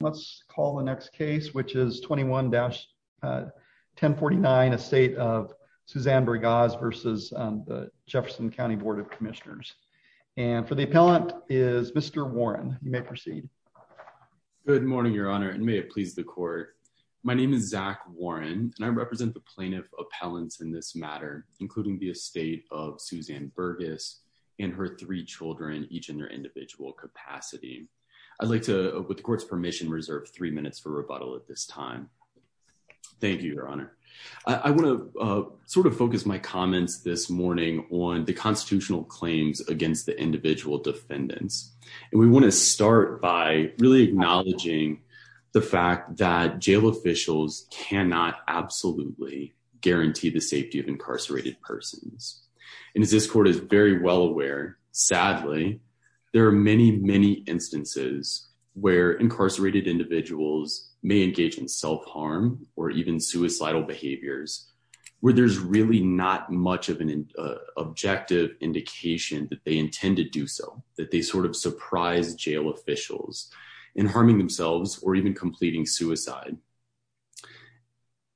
Let's call the next case, which is 21-1049, Estate of Susanne Burgaz v. Jefferson County Board of Commissioners. And for the appellant is Mr. Warren. You may proceed. Good morning, Your Honor, and may it please the Court. My name is Zach Warren, and I represent the plaintiff appellants in this matter, including the estate of Susanne Burgaz and her three children, each in their individual capacity. I'd like to, with the Court's permission, reserve three minutes for rebuttal at this time. Thank you, Your Honor. I want to sort of focus my comments this morning on the constitutional claims against the individual defendants. And we want to start by really acknowledging the fact that jail officials cannot absolutely guarantee the safety of incarcerated persons. And as this Court is very well aware, sadly, there are many, many instances where incarcerated individuals may engage in self-harm or even suicidal behaviors where there's really not much of an objective indication that they intend to do so, that they sort of surprise jail officials in harming themselves or even completing suicide.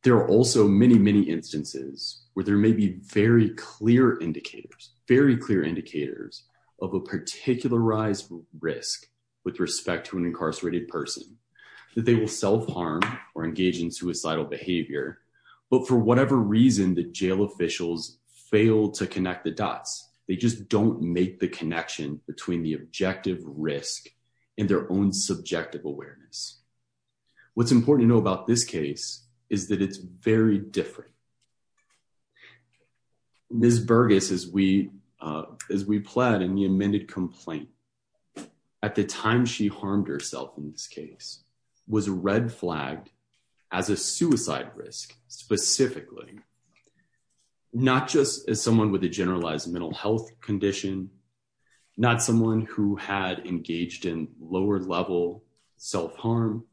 There are also many, many instances where there may be very clear indicators, very clear indicators of a particularized risk with respect to an incarcerated person that they will self-harm or engage in suicidal behavior, but for whatever reason, the jail officials fail to connect the dots. They just don't make the connection between the objective risk and their own subjective awareness. What's important to know about this case is that it's very different. Ms. Burgess, as we pled in the amended complaint, at the time she harmed herself in this case, was red-flagged as a suicide risk specifically, not just as someone with a generalized mental health condition, not someone who had engaged in lower-level self-harm,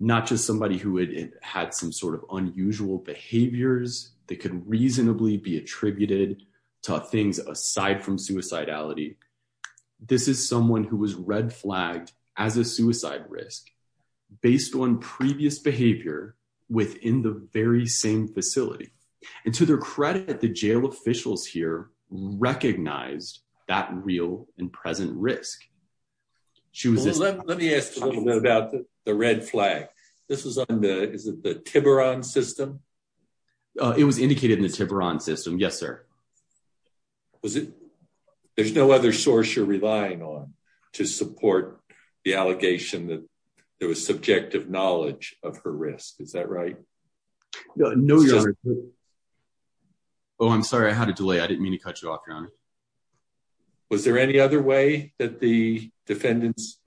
not just somebody who had some sort of unusual behaviors that could reasonably be attributed to things aside from suicidality. This is someone who was red-flagged as a suicide risk based on previous behavior within the very same facility. To their credit, the jail officials here recognized that real and present risk. Let me ask a little bit about the red flag. This was on the Tiburon system? It was indicated in the Tiburon system, yes, sir. There's no other source you're relying on to support the allegation that there was subjective knowledge of her risk, is that right? No, Your Honor. Oh, I'm sorry, I had a delay. I didn't mean to cut you off, Your Honor. Was there any other way that the defendants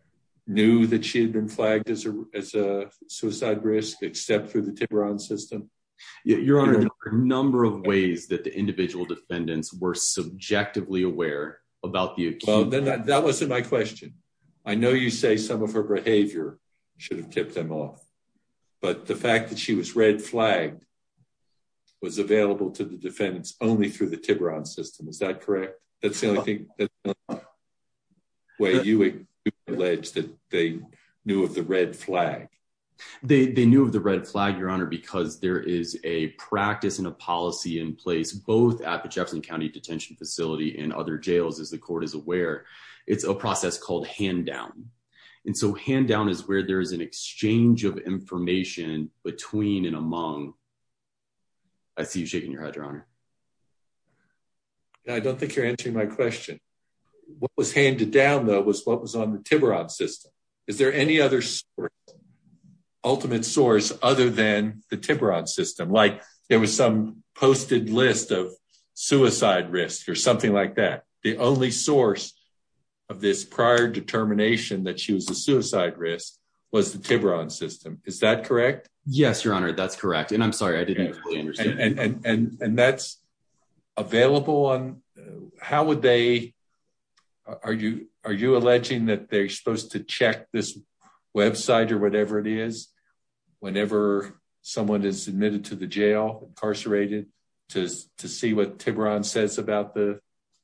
knew that she had been flagged as a suicide risk except through the Tiburon system? Your Honor, there were a number of ways that the individual defendants were subjectively aware about the accuse. That wasn't my question. I know you say some of her behavior should have tipped them off, but the fact that she was red flagged was available to the defendants only through the Tiburon system. Is that correct? That's the only way you would allege that they knew of the red flag? They knew of the red flag, Your Honor, because there is a practice and a policy in place both at the Jefferson County Detention Facility and other jails, as the court is aware. It's a process called hand down, and so hand down is where there is an exchange of information between and among- I see you shaking your head, Your Honor. I don't think you're answering my question. What was handed down, though, was what was on the Tiburon system. Is there any other ultimate source other than the Tiburon system? There was some posted list of suicide risk or something like that. The only source of this prior determination that she was a suicide risk was the Tiburon system. Is that correct? Yes, Your Honor. That's correct. I'm sorry. I didn't fully understand. That's available on- how would they- are you alleging that they're supposed to check this website or whatever it is whenever someone is admitted to the jail, incarcerated, to see what Tiburon says about the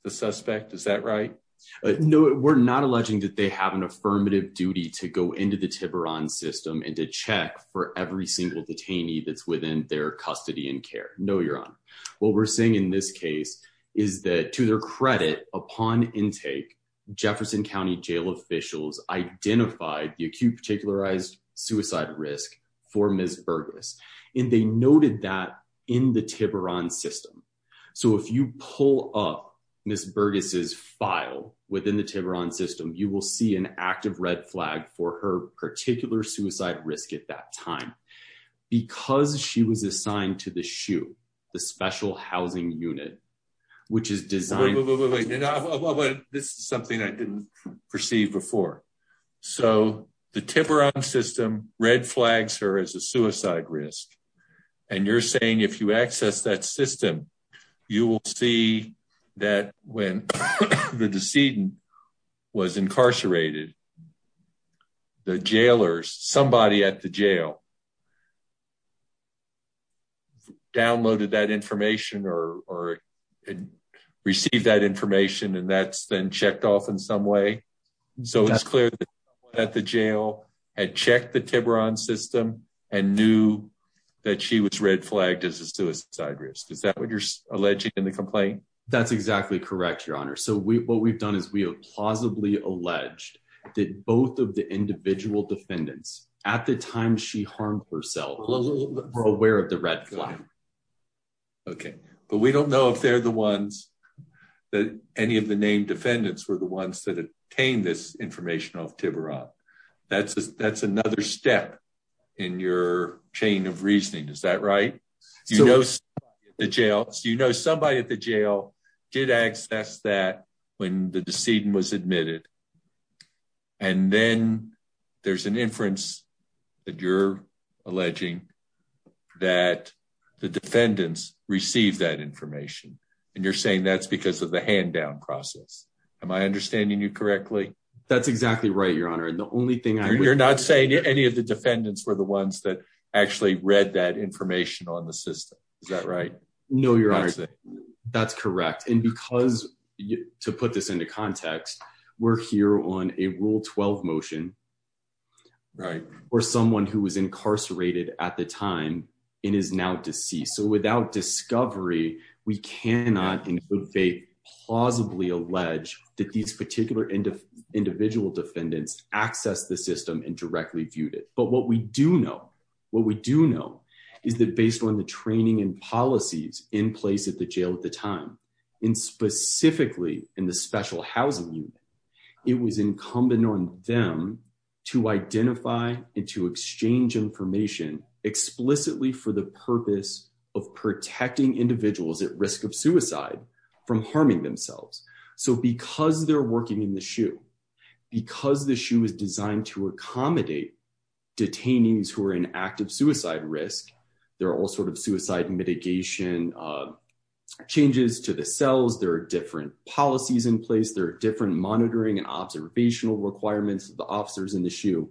suspect? Is that right? No, we're not alleging that they have an affirmative duty to go into the Tiburon system and to check for every single detainee that's within their custody and care. No, Your Honor. What we're saying in this case is that, to their credit, upon intake, Jefferson County jail officials identified the acute particularized suicide risk for Ms. Burgess, and they noted that in the Tiburon system. So if you pull up Ms. Burgess's file within the Tiburon system, you will see an active red flag for her particular suicide risk at that time. Because she was assigned to the SHU, the Special Housing Unit, which is designed- Wait, wait, wait, wait. This is something I didn't perceive before. So the Tiburon system red flags her as a suicide risk. And you're saying if you access that system, you will see that when the decedent was incarcerated, the jailers, somebody at the jail, downloaded that information or received that information and that's been checked off in some way. So it's clear that the jail had checked the Tiburon system and knew that she was red flagged as a suicide risk. Is that what you're alleging in the complaint? That's exactly correct, Your Honor. So what we've done is we have plausibly alleged that both of the individual defendants, at the time she harmed herself, were aware of the red flag. Okay. But we don't know if they're the ones, that any of the named defendants were the ones that obtained this information off Tiburon. That's another step in your chain of reasoning. Is that right? So you know somebody at the jail did access that when the decedent was admitted. And then there's an inference that you're alleging that the defendants received that information and you're saying that's because of the hand down process. Am I understanding you correctly? That's exactly right, Your Honor. And the only thing I would- You're not saying any of the defendants were the ones that actually read that information on the system. Is that right? No, Your Honor. That's it. That's correct. And because, to put this into context, we're here on a Rule 12 motion for someone who was incarcerated at the time and is now deceased. So without discovery, we cannot, in good faith, plausibly allege that these particular individual defendants accessed the system and directly viewed it. But what we do know, what we do know is that based on the training and policies in place at the jail at the time, and specifically in the special housing unit, it was incumbent on them to identify and to exchange information explicitly for the purpose of protecting individuals at risk of suicide from harming themselves. So because they're working in the SHU, because the SHU is designed to accommodate detainees who are in active suicide risk, there are all sorts of suicide mitigation changes to the cells, there are different policies in place, there are different monitoring and observational requirements of the officers in the SHU.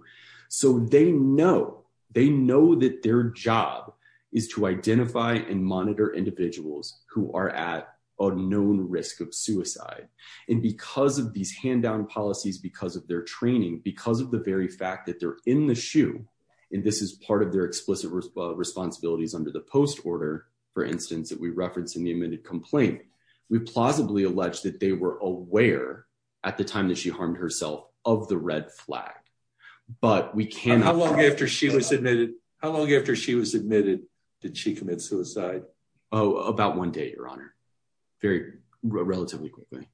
So they know, they know that their job is to identify and monitor individuals who are at a known risk of suicide. And because of these hand-down policies, because of their training, because of the very fact that they're in the SHU, and this is part of their explicit responsibilities under the post order, for instance, that we referenced in the amended complaint, we plausibly allege that they were aware at the time that she harmed herself of the red flag. But we cannot- How long after she was admitted, how long after she was admitted did she commit suicide? Oh, about one day, your honor. Very, relatively quickly.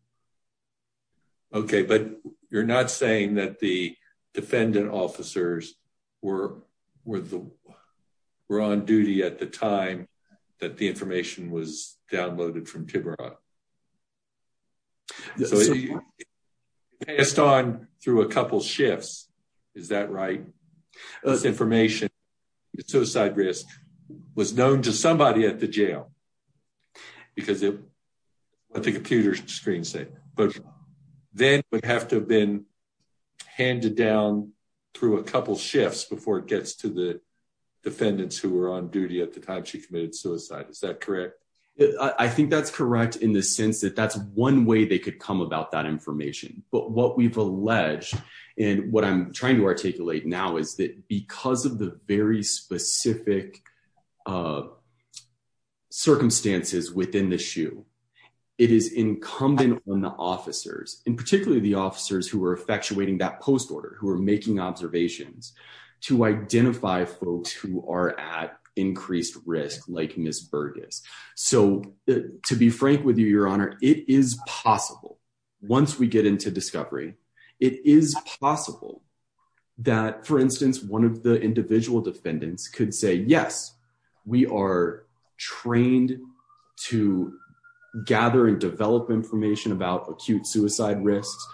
Okay, but you're not saying that the defendant officers were on duty at the time that the information was downloaded from Tiburon? So he passed on through a couple shifts, is that right? This information, suicide risk, was known to somebody at the jail, because of the computer screen, but then would have to have been handed down through a couple shifts before it gets to the defendants who were on duty at the time she committed suicide, is that correct? I think that's correct in the sense that that's one way they could come about that information. But what we've alleged, and what I'm trying to articulate now is that because of the very specific circumstances within the SHU, it is incumbent on the officers, and particularly the officers who are effectuating that post order, who are making observations, to identify folks who are at increased risk, like Ms. Burgess. So to be frank with you, your honor, it is possible, once we get into discovery, it is possible that, for instance, one of the individual defendants could say, yes, we are trained to gather and develop information about acute suicide risks.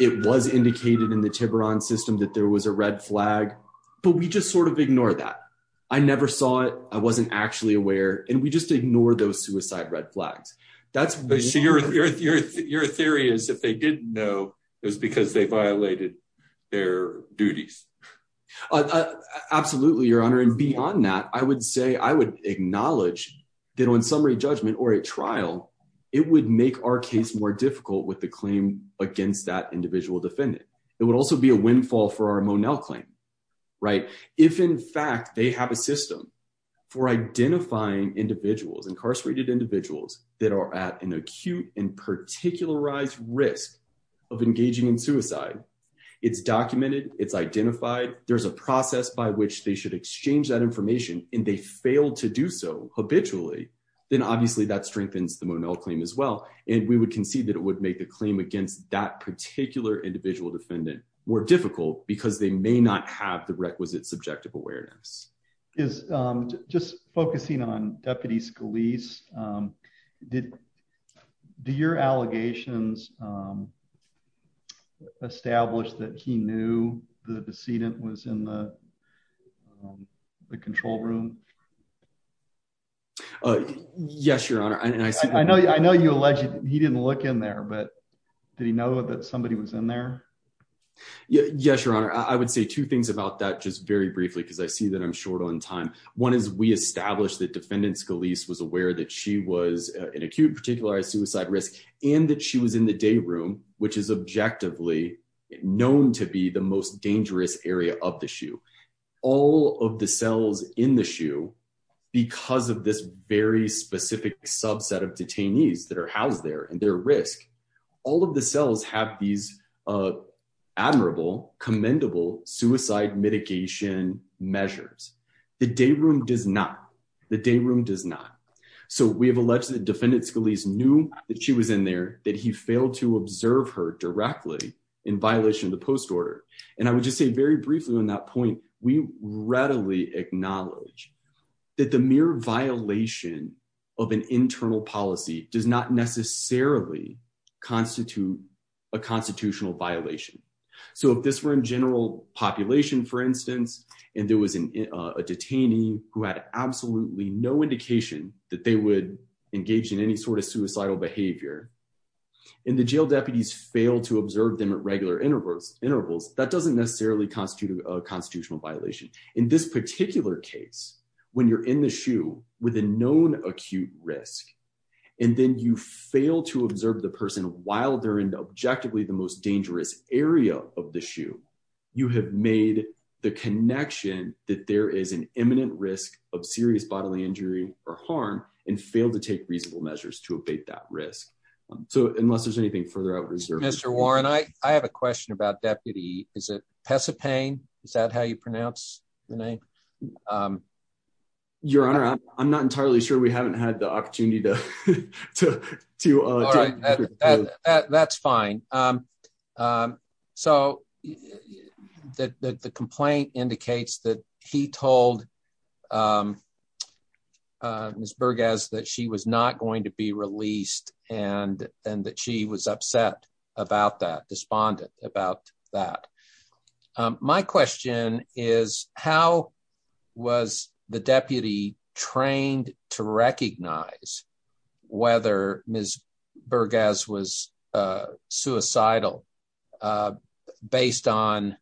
It was indicated in the Tiburon system that there was a red flag, but we just sort of ignore that. I never saw it. I wasn't actually aware. And we just ignore those suicide red flags. Your theory is if they didn't know, it was because they violated their duties. Absolutely, your honor. And beyond that, I would say I would acknowledge that on summary judgment or a trial, it would make our case more difficult with the claim against that individual defendant. It would also be a windfall for our Monell claim, right? If, in fact, they have a system for identifying individuals, incarcerated individuals that are at an acute and particularized risk of engaging in suicide, it's documented, it's identified. There's a process by which they should exchange that information and they fail to do so habitually, then obviously that strengthens the Monell claim as well. And we would concede that it would make the claim against that particular individual defendant more difficult because they may not have the requisite subjective awareness is just focusing on deputies police. Did your allegations establish that he knew the decedent was in the control room? Yes, your honor. And I know I know you alleged he didn't look in there, but did he know that somebody was in there? Yes, your honor. I would say two things about that just very briefly, because I see that I'm short on time. One is we established that defendant Scalise was aware that she was an acute particularized suicide risk and that she was in the day room, which is objectively known to be the most dangerous area of the shoe. All of the cells in the shoe, because of this very specific subset of detainees that are admirable, commendable suicide mitigation measures, the day room does not the day room does not. So we have alleged that defendant Scalise knew that she was in there, that he failed to observe her directly in violation of the post order. And I would just say very briefly on that point, we readily acknowledge that the mere violation of an internal policy does not necessarily constitute a constitutional violation. So if this were in general population, for instance, and there was a detainee who had absolutely no indication that they would engage in any sort of suicidal behavior in the jail, deputies fail to observe them at regular intervals. Intervals that doesn't necessarily constitute a constitutional violation in this particular case, when you're in the shoe with a known acute risk and then you fail to observe the dangerous area of the shoe, you have made the connection that there is an imminent risk of serious bodily injury or harm and fail to take reasonable measures to abate that risk. So unless there's anything further out, Mr. Warren, I have a question about deputy. Is it Pesopane? Is that how you pronounce the name? Your Honor, I'm not entirely sure we haven't had the opportunity to do that. That's fine. So the complaint indicates that he told Ms. Burgess that she was not going to be released and and that she was upset about that, despondent about that. My question is, how was the deputy trained to recognize whether Ms. Burgess was suicidal based on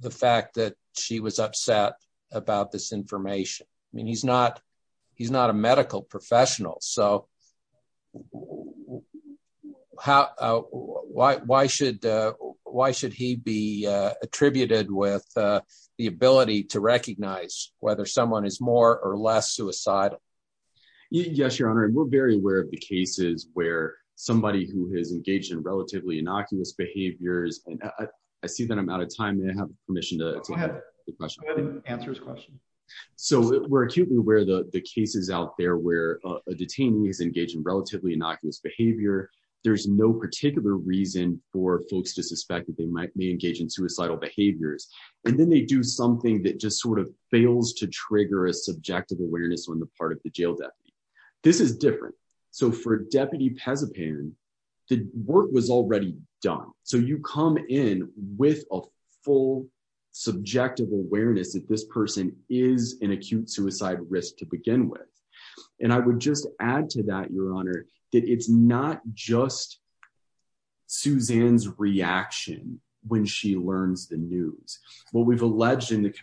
the fact that she was upset about this information? I mean, he's not he's not a medical professional. So how why should why should he be attributed with the ability to recognize whether someone is more or less suicidal? Yes, Your Honor, and we're very aware of the cases where somebody who has engaged in relatively innocuous behaviors. And I see that I'm out of time and I have permission to go ahead and answer his question. So we're acutely aware of the cases out there where a detainee is engaged in relatively innocuous behavior. There's no particular reason for folks to suspect that they might be engaged in suicidal behaviors. And then they do something that just sort of fails to trigger a subjective awareness on the part of the jail that this is different. So for Deputy Pezapan, the work was already done. So you come in with a full subjective awareness that this person is an acute suicide risk to begin with. And I would just add to that, Your Honor, that it's not just Suzanne's reaction when she learns the news. What we've alleged in the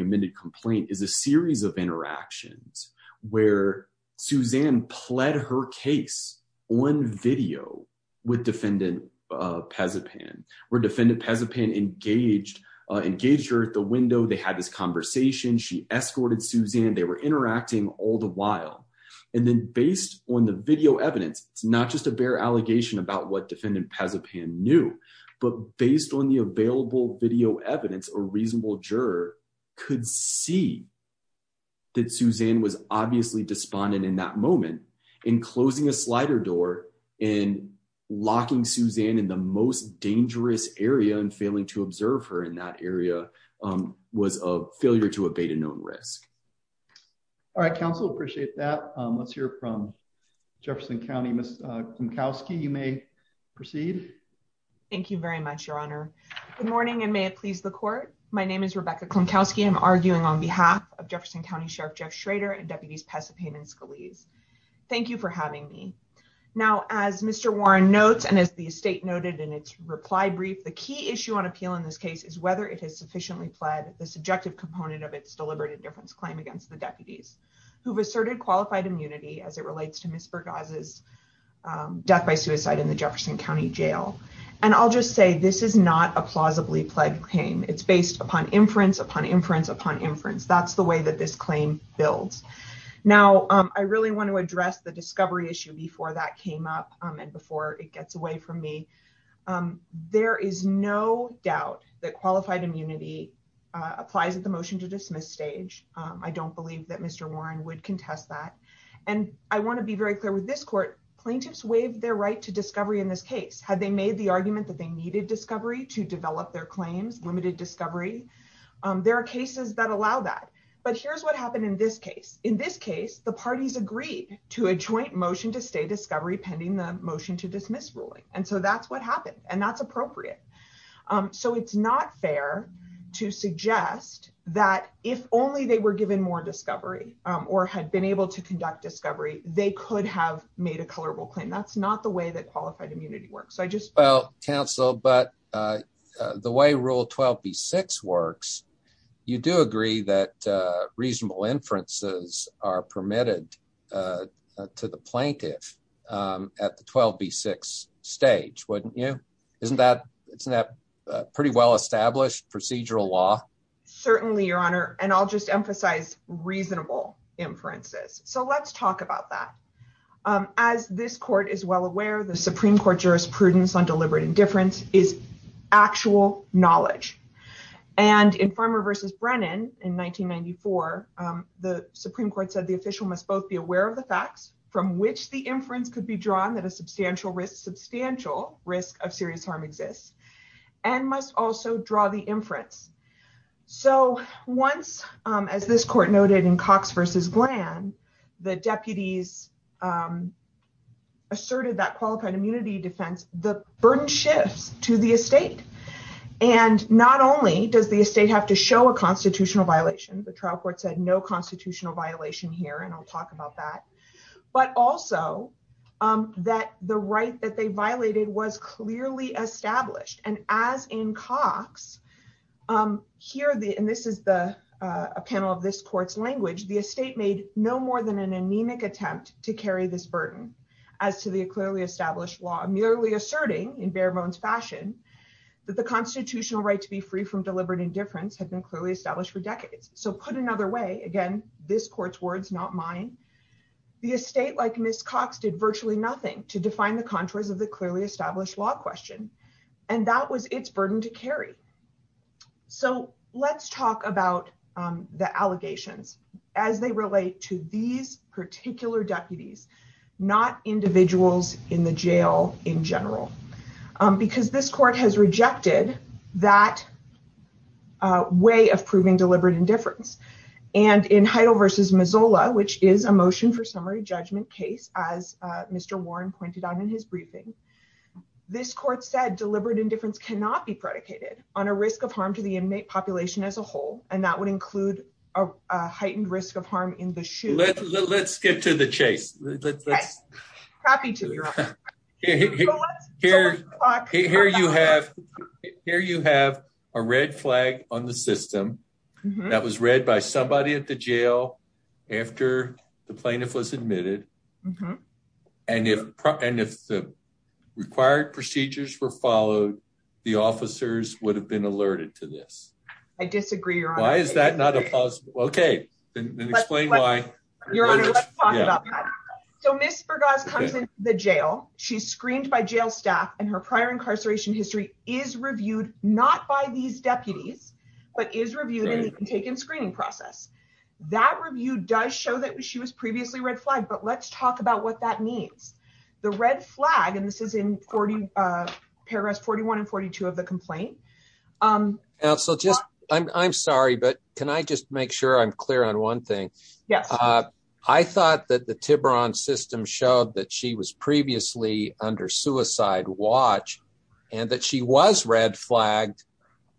amended complaint is a series of interactions where Suzanne pled her case on video with Defendant Pezapan, where Defendant Pezapan engaged her at the window. They had this conversation. She escorted Suzanne. They were interacting all the while. And then based on the video evidence, it's not just a bare allegation about what a reasonable juror could see. That Suzanne was obviously despondent in that moment in closing a slider door and locking Suzanne in the most dangerous area and failing to observe her in that area was a failure to abate a known risk. All right, counsel, appreciate that. Let's hear from Jefferson County. Ms. Kumkowski, you may proceed. Thank you very much, Your Honor. Good morning and may it please the court. My name is Rebecca Kumkowski. I'm arguing on behalf of Jefferson County Sheriff Jeff Schrader and Deputies Pezapan and Scalise. Thank you for having me. Now, as Mr. Warren notes and as the state noted in its reply brief, the key issue on appeal in this case is whether it has sufficiently pled the subjective component of its deliberate indifference claim against the deputies who've asserted qualified immunity as it relates to Ms. Burgas's death by suicide in the Jefferson County jail. And I'll just say this is not a plausibly pled claim. It's based upon inference, upon inference, upon inference. That's the way that this claim builds. Now, I really want to address the discovery issue before that came up and before it gets away from me. There is no doubt that qualified immunity applies at the motion to dismiss stage. I don't believe that Mr. Warren would contest that. And I want to be very clear with this court. Plaintiffs waived their right to discovery in this case. Had they made the argument that they needed discovery to develop their claims, limited discovery? There are cases that allow that. But here's what happened in this case. In this case, the parties agreed to a joint motion to stay discovery pending the motion to dismiss ruling. And so that's what happened. And that's appropriate. So it's not fair to suggest that if only they were given more discovery or had been able to conduct discovery, they could have made a colorable claim. That's not the way that qualified immunity works. So I just. Well, counsel, but the way rule 12B6 works, you do agree that reasonable inferences are permitted to the plaintiff at the 12B6 stage, wouldn't you? Isn't that pretty well established procedural law? Certainly, your honor. And I'll just emphasize reasonable inferences. So let's talk about that. As this court is well aware, the Supreme Court jurisprudence on deliberate indifference is actual knowledge. And in Farmer versus Brennan in 1994, the Supreme Court said the official must both be aware of the facts from which the inference could be drawn that a substantial risk, substantial risk of serious harm exists and must also draw the inference. So once, as this court noted in Cox versus Glenn, the deputies asserted that qualified immunity defense, the burden shifts to the estate. And not only does the estate have to show a constitutional violation, the trial court said no constitutional violation here. And I'll talk about that, but also that the right that they violated was clearly established. And as in Cox here, and this is a panel of this court's language, the estate made no more than an anemic attempt to carry this burden as to the clearly established law, merely asserting in bare bones fashion that the constitutional right to be free from deliberate indifference had been clearly established for decades. So put another way, again, this court's words, not mine. The estate, like Ms. Cox, did virtually nothing to define the contours of the clearly established law question, and that was its burden to carry. So let's talk about the allegations as they relate to these particular deputies, not individuals in the jail in general, because this court has rejected that way of proving deliberate indifference. And in Heidel versus Mazzola, which is a motion for summary judgment case, as Mr. Warren pointed out in his briefing, this court said deliberate indifference cannot be predicated on a risk of harm to the inmate population as a whole. And that would include a heightened risk of harm in the shoe. Let's get to the chase. Happy to hear you have here. You have a red flag on the system that was read by somebody at the jail after the plaintiff was admitted. And if and if the required procedures were followed, the officers would have been alerted to this. I disagree. Why is that not a possible? OK, then explain why. Your Honor, let's talk about that. So Ms. Burgas comes into the jail. She's screened by jail staff and her prior incarceration history is reviewed not by these deputies, but is reviewed and taken screening process. That review does show that she was previously red flagged. But let's talk about what that means. The red flag. And this is in 40 paragraphs, 41 and 42 of the complaint. And so just I'm sorry, but can I just make sure I'm clear on one thing? Yes. I thought that the Tiburon system showed that she was previously under suicide watch and that she was red flagged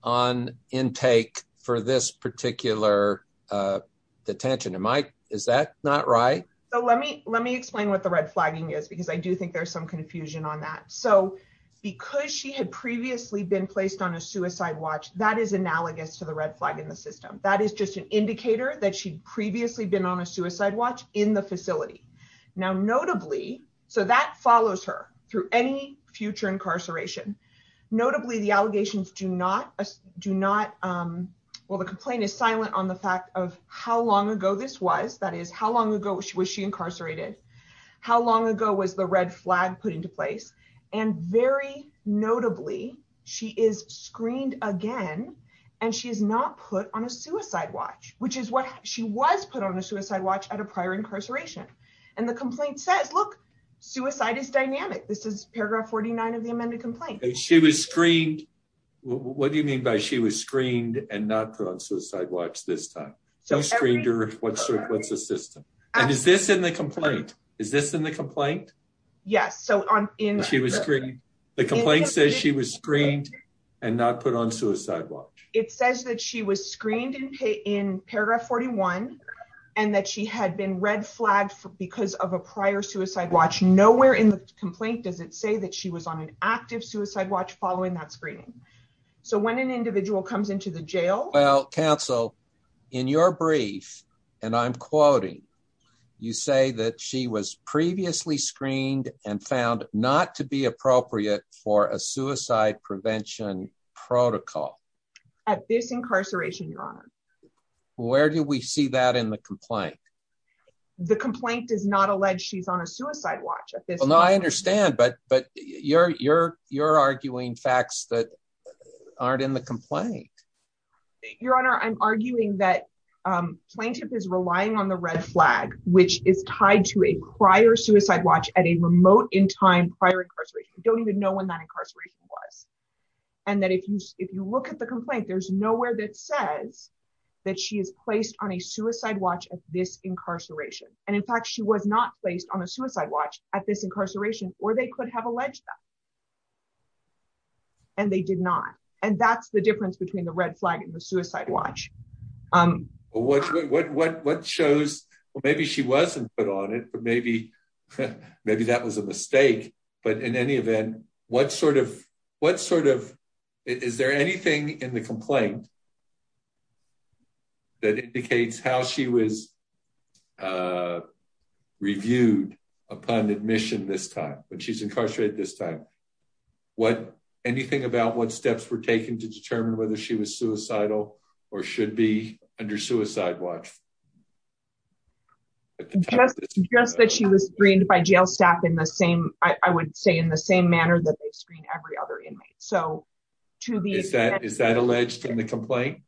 on intake for this particular detention. And Mike, is that not right? So let me let me explain what the red flagging is, because I do think there's some confusion on that. So because she had previously been placed on a suicide watch, that is analogous to the red flag in the system. That is just an indicator that she'd previously been on a suicide watch in the facility. Now, notably, so that follows her through any future incarceration. Notably, the allegations do not do not. Well, the complaint is silent on the fact of how long ago this was. That is, how long ago was she incarcerated? How long ago was the red flag put into place? And very notably, she is screened again and she is not put on a suicide watch, which is what she was put on a suicide watch at a prior incarceration. And the complaint says, look, suicide is dynamic. This is paragraph forty nine of the amended complaint. She was screened. What do you mean by she was screened and not put on suicide watch this time? So screened or what's the system? And is this in the complaint? Is this in the complaint? Yes. So she was screened. The complaint says she was screened and not put on suicide watch. It says that she was screened and in paragraph forty one and that she had been red flagged because of a prior suicide watch. Nowhere in the complaint does it say that she was on an active suicide watch following that screening. So when an individual comes into the jail. Well, counsel, in your brief and I'm quoting, you say that she was previously screened and found not to be appropriate for a suicide prevention protocol. At this incarceration, your honor. Where do we see that in the complaint? The complaint does not allege she's on a suicide watch. No, I understand. But but you're you're you're arguing facts that aren't in the complaint. Your honor, I'm arguing that plaintiff is relying on the red flag, which is tied to a prior suicide watch at a remote in time prior incarceration. Don't even know when that incarceration was and that if you if you look at the complaint, there's nowhere that says that she is placed on a suicide watch at this incarceration. And in fact, she was not placed on a suicide watch at this incarceration or they could have alleged that. And they did not. And that's the difference between the red flag and the suicide watch. Well, what what what what shows maybe she wasn't put on it, but maybe maybe that was a then what sort of what sort of is there anything in the complaint? That indicates how she was reviewed upon admission this time, but she's incarcerated this time. What anything about what steps were taken to determine whether she was suicidal or should be under suicide watch? Just just that she was screened by jail staff in the same, I would say, in the same manner that they screen every other inmate. So to be said, is that alleged in the complaint?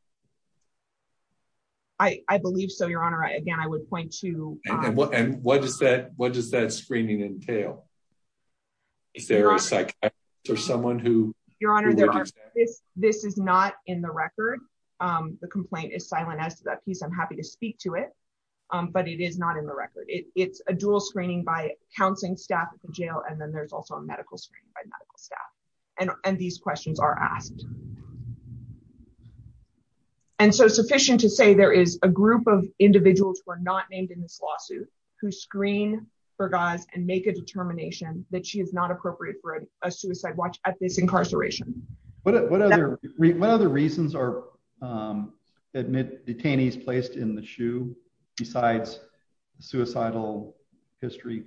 I believe so, your honor. Again, I would point to what and what does that what does that screening entail? Is there a psychiatrist or someone who your honor, there is this is not in the record. The complaint is silent as to that piece. I'm happy to speak to it. But it is not in the record. It's a dual screening by counseling staff at the jail. And then there's also a medical screen by medical staff. And these questions are asked. And so sufficient to say there is a group of individuals who are not named in this lawsuit who screen for guys and make a determination that she is not appropriate for a suicide watch at this incarceration. But what other reasons are admit detainees placed in the shoe besides suicidal history?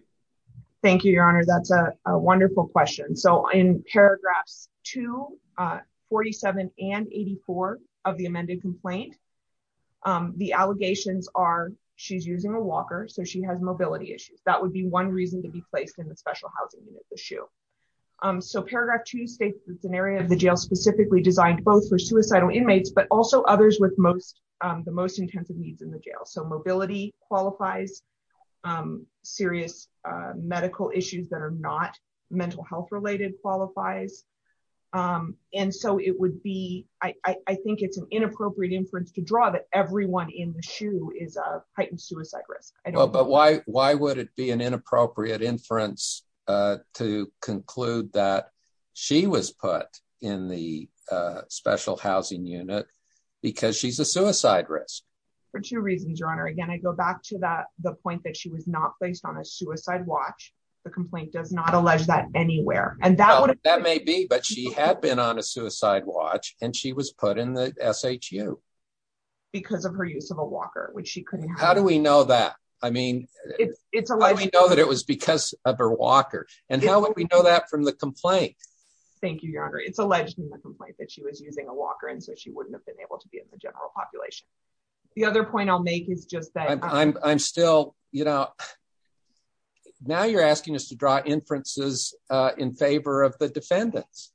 Thank you, your honor. That's a wonderful question. So in paragraphs 247 and 84 of the amended complaint, the allegations are she's using a walker so she has mobility issues. That would be one reason to be placed in the special housing unit, the shoe. So paragraph two states it's an area of the jail specifically designed both for suicidal inmates, but also others with most the most intensive needs in the jail. So mobility qualifies serious medical issues that are not mental health related qualifies. And so it would be I think it's an inappropriate inference to draw that everyone in the shoe is a heightened suicide risk. But why? Why would it be an inappropriate inference to conclude that she was put in the special housing unit because she's a suicide risk? For two reasons, your honor. Again, I go back to that the point that she was not placed on a suicide watch. The complaint does not allege that anywhere. And that would that may be, but she had been on a suicide watch and she was put in the SHU because of her use of a walker, which she couldn't. How do we know that? I mean, it's a let me know that it was because of her walker. And how would we know that from the complaint? Thank you, your honor. It's alleged in the complaint that she was using a walker and so she wouldn't have been able to be in the general population. The other point I'll make is just that I'm still, you know, now you're asking us to draw inferences in favor of the defendants.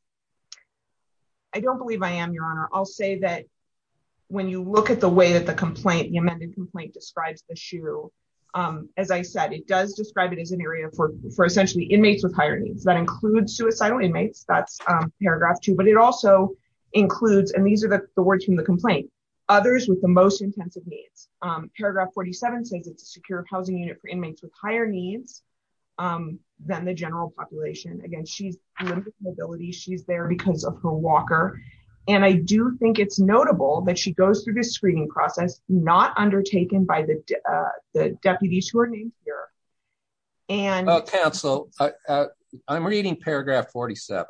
I don't believe I am, your honor. I'll say that when you look at the way that the complaint, the amended complaint describes the SHU, as I said, it does describe it as an area for essentially inmates with higher needs. That includes suicidal inmates. That's paragraph two, but it also includes, and these are the words from the complaint, others with the most intensive needs. Paragraph 47 says it's a secure housing unit for inmates with higher needs than the general population. Again, she's limited mobility. She's there because of her walker. And I do think it's notable that she goes through this screening process, not undertaken by the deputies who are named here. Counsel, I'm reading paragraph 47.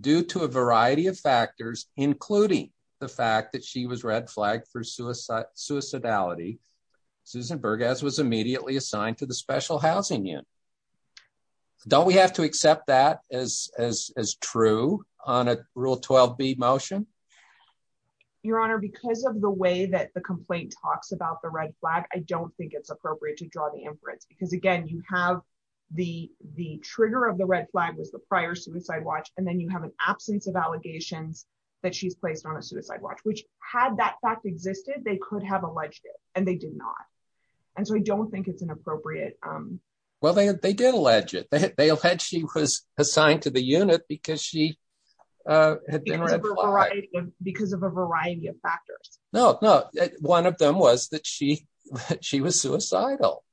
Due to a variety of factors, including the fact that she was red flagged for suicide, suicidality, Susan Burgess was immediately assigned to the special housing unit. So don't we have to accept that as, as, as true on a rule 12 B motion? Your honor, because of the way that the complaint talks about the red flag, I don't think it's appropriate to draw the inference because again, you have the, the trigger of the red flag was the prior suicide watch. And then you have an absence of allegations that she's placed on a suicide watch, which had that fact existed, they could have alleged it and they did not. And so I don't think it's an appropriate. Well, they, they did allege it. They allege she was assigned to the unit because she. Because of a variety of factors. No, no. One of them was that she, she was suicidal.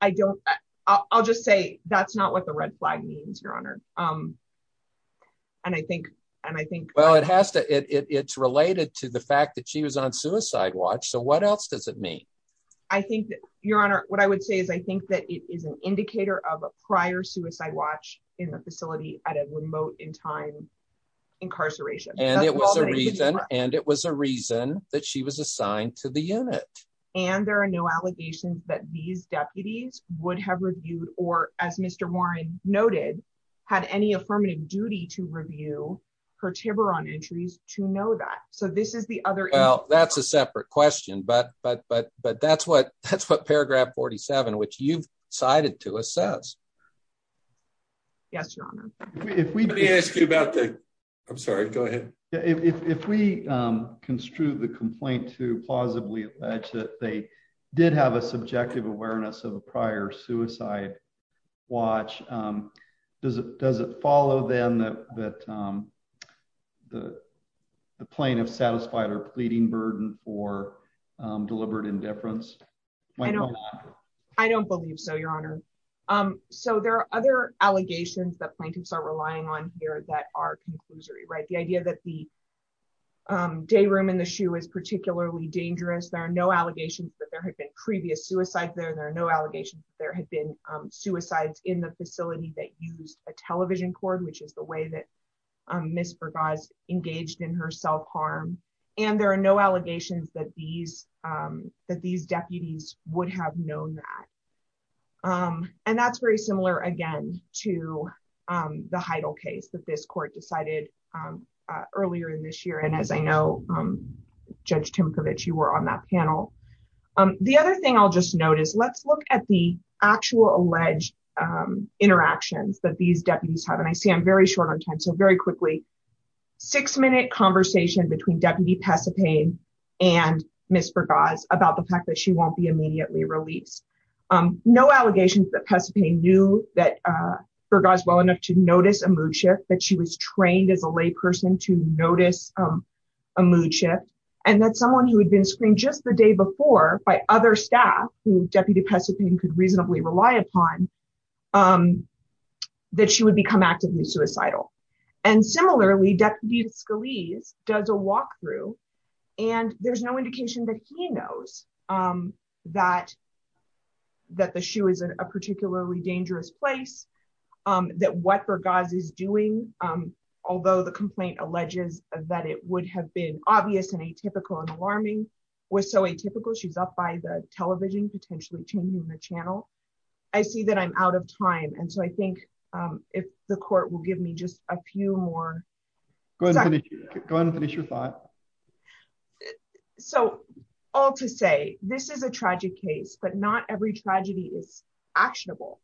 I don't, I'll just say that's not what the red flag means, your honor. And I think, and I think, well, it has to, it's related to the fact that she was on suicide watch. So what else does it mean? I think that your honor, what I would say is I think that it is an indicator of a prior suicide watch in the facility at a remote in time incarceration. And it was a reason. And it was a reason that she was assigned to the unit. And there are no allegations that these deputies would have reviewed, or as Mr. Warren noted, had any affirmative duty to review her Tiburon entries to know that. So this is the other. Well, that's a separate question, but, but, but, but that's what, that's what paragraph 47, which you've cited to assess. Yes, your honor. If we ask you about the, I'm sorry, go ahead. If we construe the complaint to plausibly alleged that they did have a subjective awareness of a prior suicide watch, does it, does it follow them that, that the plaintiff satisfied pleading burden or deliberate indifference? I don't believe so, your honor. So there are other allegations that plaintiffs are relying on here that are conclusory, right? The idea that the day room in the shoe is particularly dangerous. There are no allegations that there had been previous suicide there. There are no allegations that there had been suicides in the facility that used a television cord, which is the way that Ms. Burgas engaged in her self-harm. And there are no allegations that these that these deputies would have known that. And that's very similar again to the Heidel case that this court decided earlier in this year. And as I know, Judge Timkovich, you were on that panel. The other thing I'll just notice, let's look at the actual alleged interactions that these deputies have. And I see I'm very short on time. So very quickly, six minute conversation between Deputy Pesopane and Ms. Burgas about the fact that she won't be immediately released. No allegations that Pesopane knew that Burgas well enough to notice a mood shift, that she was trained as a lay person to notice a mood shift. And that someone who had been screened just the day before by other staff who Deputy Pesopane could reasonably rely upon, that she would become actively suicidal. And similarly, Deputy Scalise does a walkthrough and there's no indication that he knows that that the shoe is a particularly dangerous place, that what Burgas is doing, although the complaint alleges that it would have been obvious and atypical and alarming, was so atypical. She's up by the television, potentially changing the channel. I see that I'm out of time. And so I think if the court will give me just a few more. Go ahead and finish your thought. So all to say, this is a tragic case, but not every tragedy is actionable.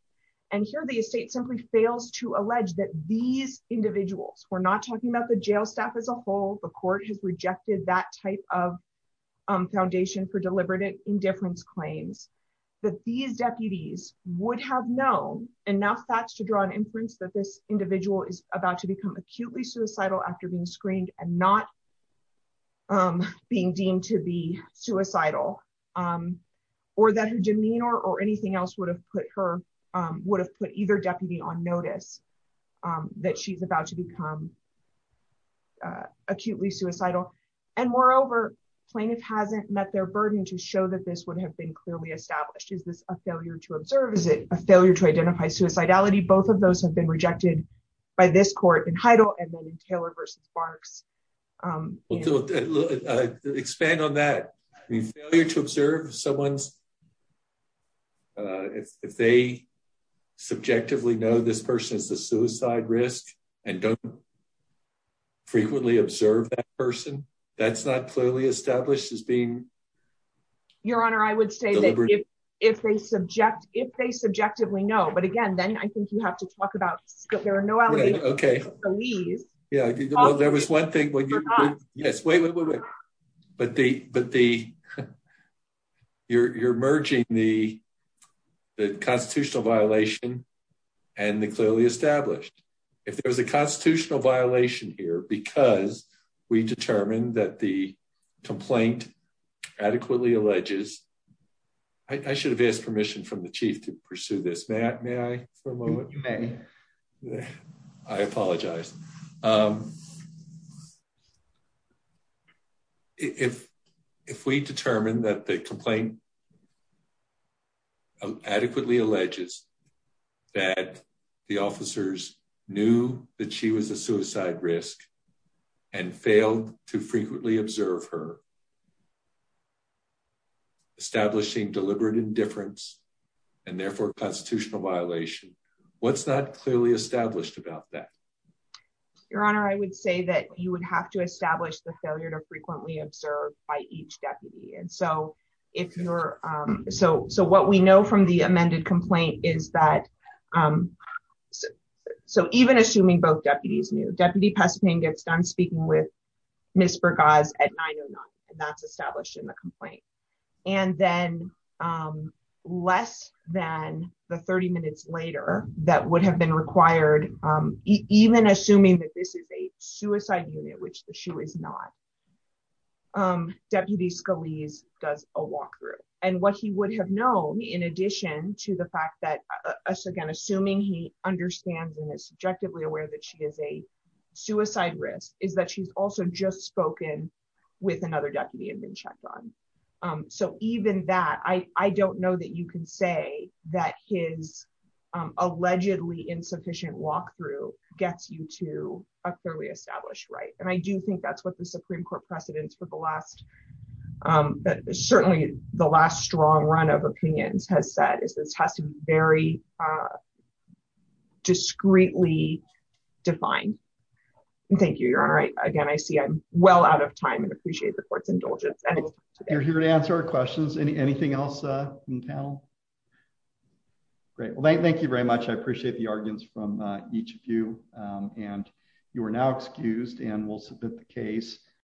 And here the estate simply fails to allege that these individuals, we're not talking about the jail staff as a whole. The court has rejected that type of foundation for deliberate indifference claims that these deputies would have known enough facts to draw an inference that this individual is about to become acutely suicidal after being screened and not being deemed to be suicidal. Or that her demeanor or anything else would have put her, would have put either deputy on notice that she's about to become acutely suicidal. And moreover, plaintiff hasn't met their burden to show that this would have been clearly established. Is this a failure to observe? Is it a failure to identify suicidality? Both of those have been rejected by this court in Heidel and then in Taylor v. Barks. Well, expand on that. I mean, failure to observe someone's, if they subjectively know this person is a suicide risk and don't frequently observe that person, that's not clearly established as being. Your Honor, I would say that if they subject, if they subjectively know, but again, then I think you have to talk about scope. There are no, okay. Yeah, there was one thing. Yes. Wait, wait, wait, wait, but the, but the, you're, you're merging the, the constitutional violation and the clearly established. If there was a constitutional violation here, because we determined that the complaint adequately alleges, I should have asked permission from the chief to pursue this. Matt, may I for a moment? Yeah, I apologize. Um, if, if we determined that the complaint adequately alleges that the officers knew that she was a suicide risk and failed to frequently observe her. Establishing deliberate indifference and therefore constitutional violation. What's that clearly established about that? Your Honor, I would say that you would have to establish the failure to frequently observe by each deputy. And so if you're, um, so, so what we know from the amended complaint is that, um, so even assuming both deputies knew deputy pest pain gets done speaking with. Ms. Burgos at nine or nine, and that's established in the complaint. And then, um, less than the 30 minutes later that would have been required, um, even assuming that this is a suicide unit, which the shoe is not, um, deputy Scalise does a walkthrough and what he would have known in addition to the fact that again, assuming he understands and is subjectively aware that she is a suicide risk is that she's also just spoken with another deputy and been checked on. Um, so even that, I, I don't know that you can say that his, um, allegedly insufficient walkthrough gets you to a clearly established, right. And I do think that's what the Supreme court precedents for the last, um, certainly the last strong run of opinions has said is this has to be very, uh, discreetly defined. Thank you. You're all right. Again, I see I'm well out of time and appreciate the court's indulgence. You're here to answer our questions. Any, anything else, uh, in the panel? Great. Well, thank, thank you very much. I appreciate the arguments from each of you. Um, and you are now excused and we'll submit the case.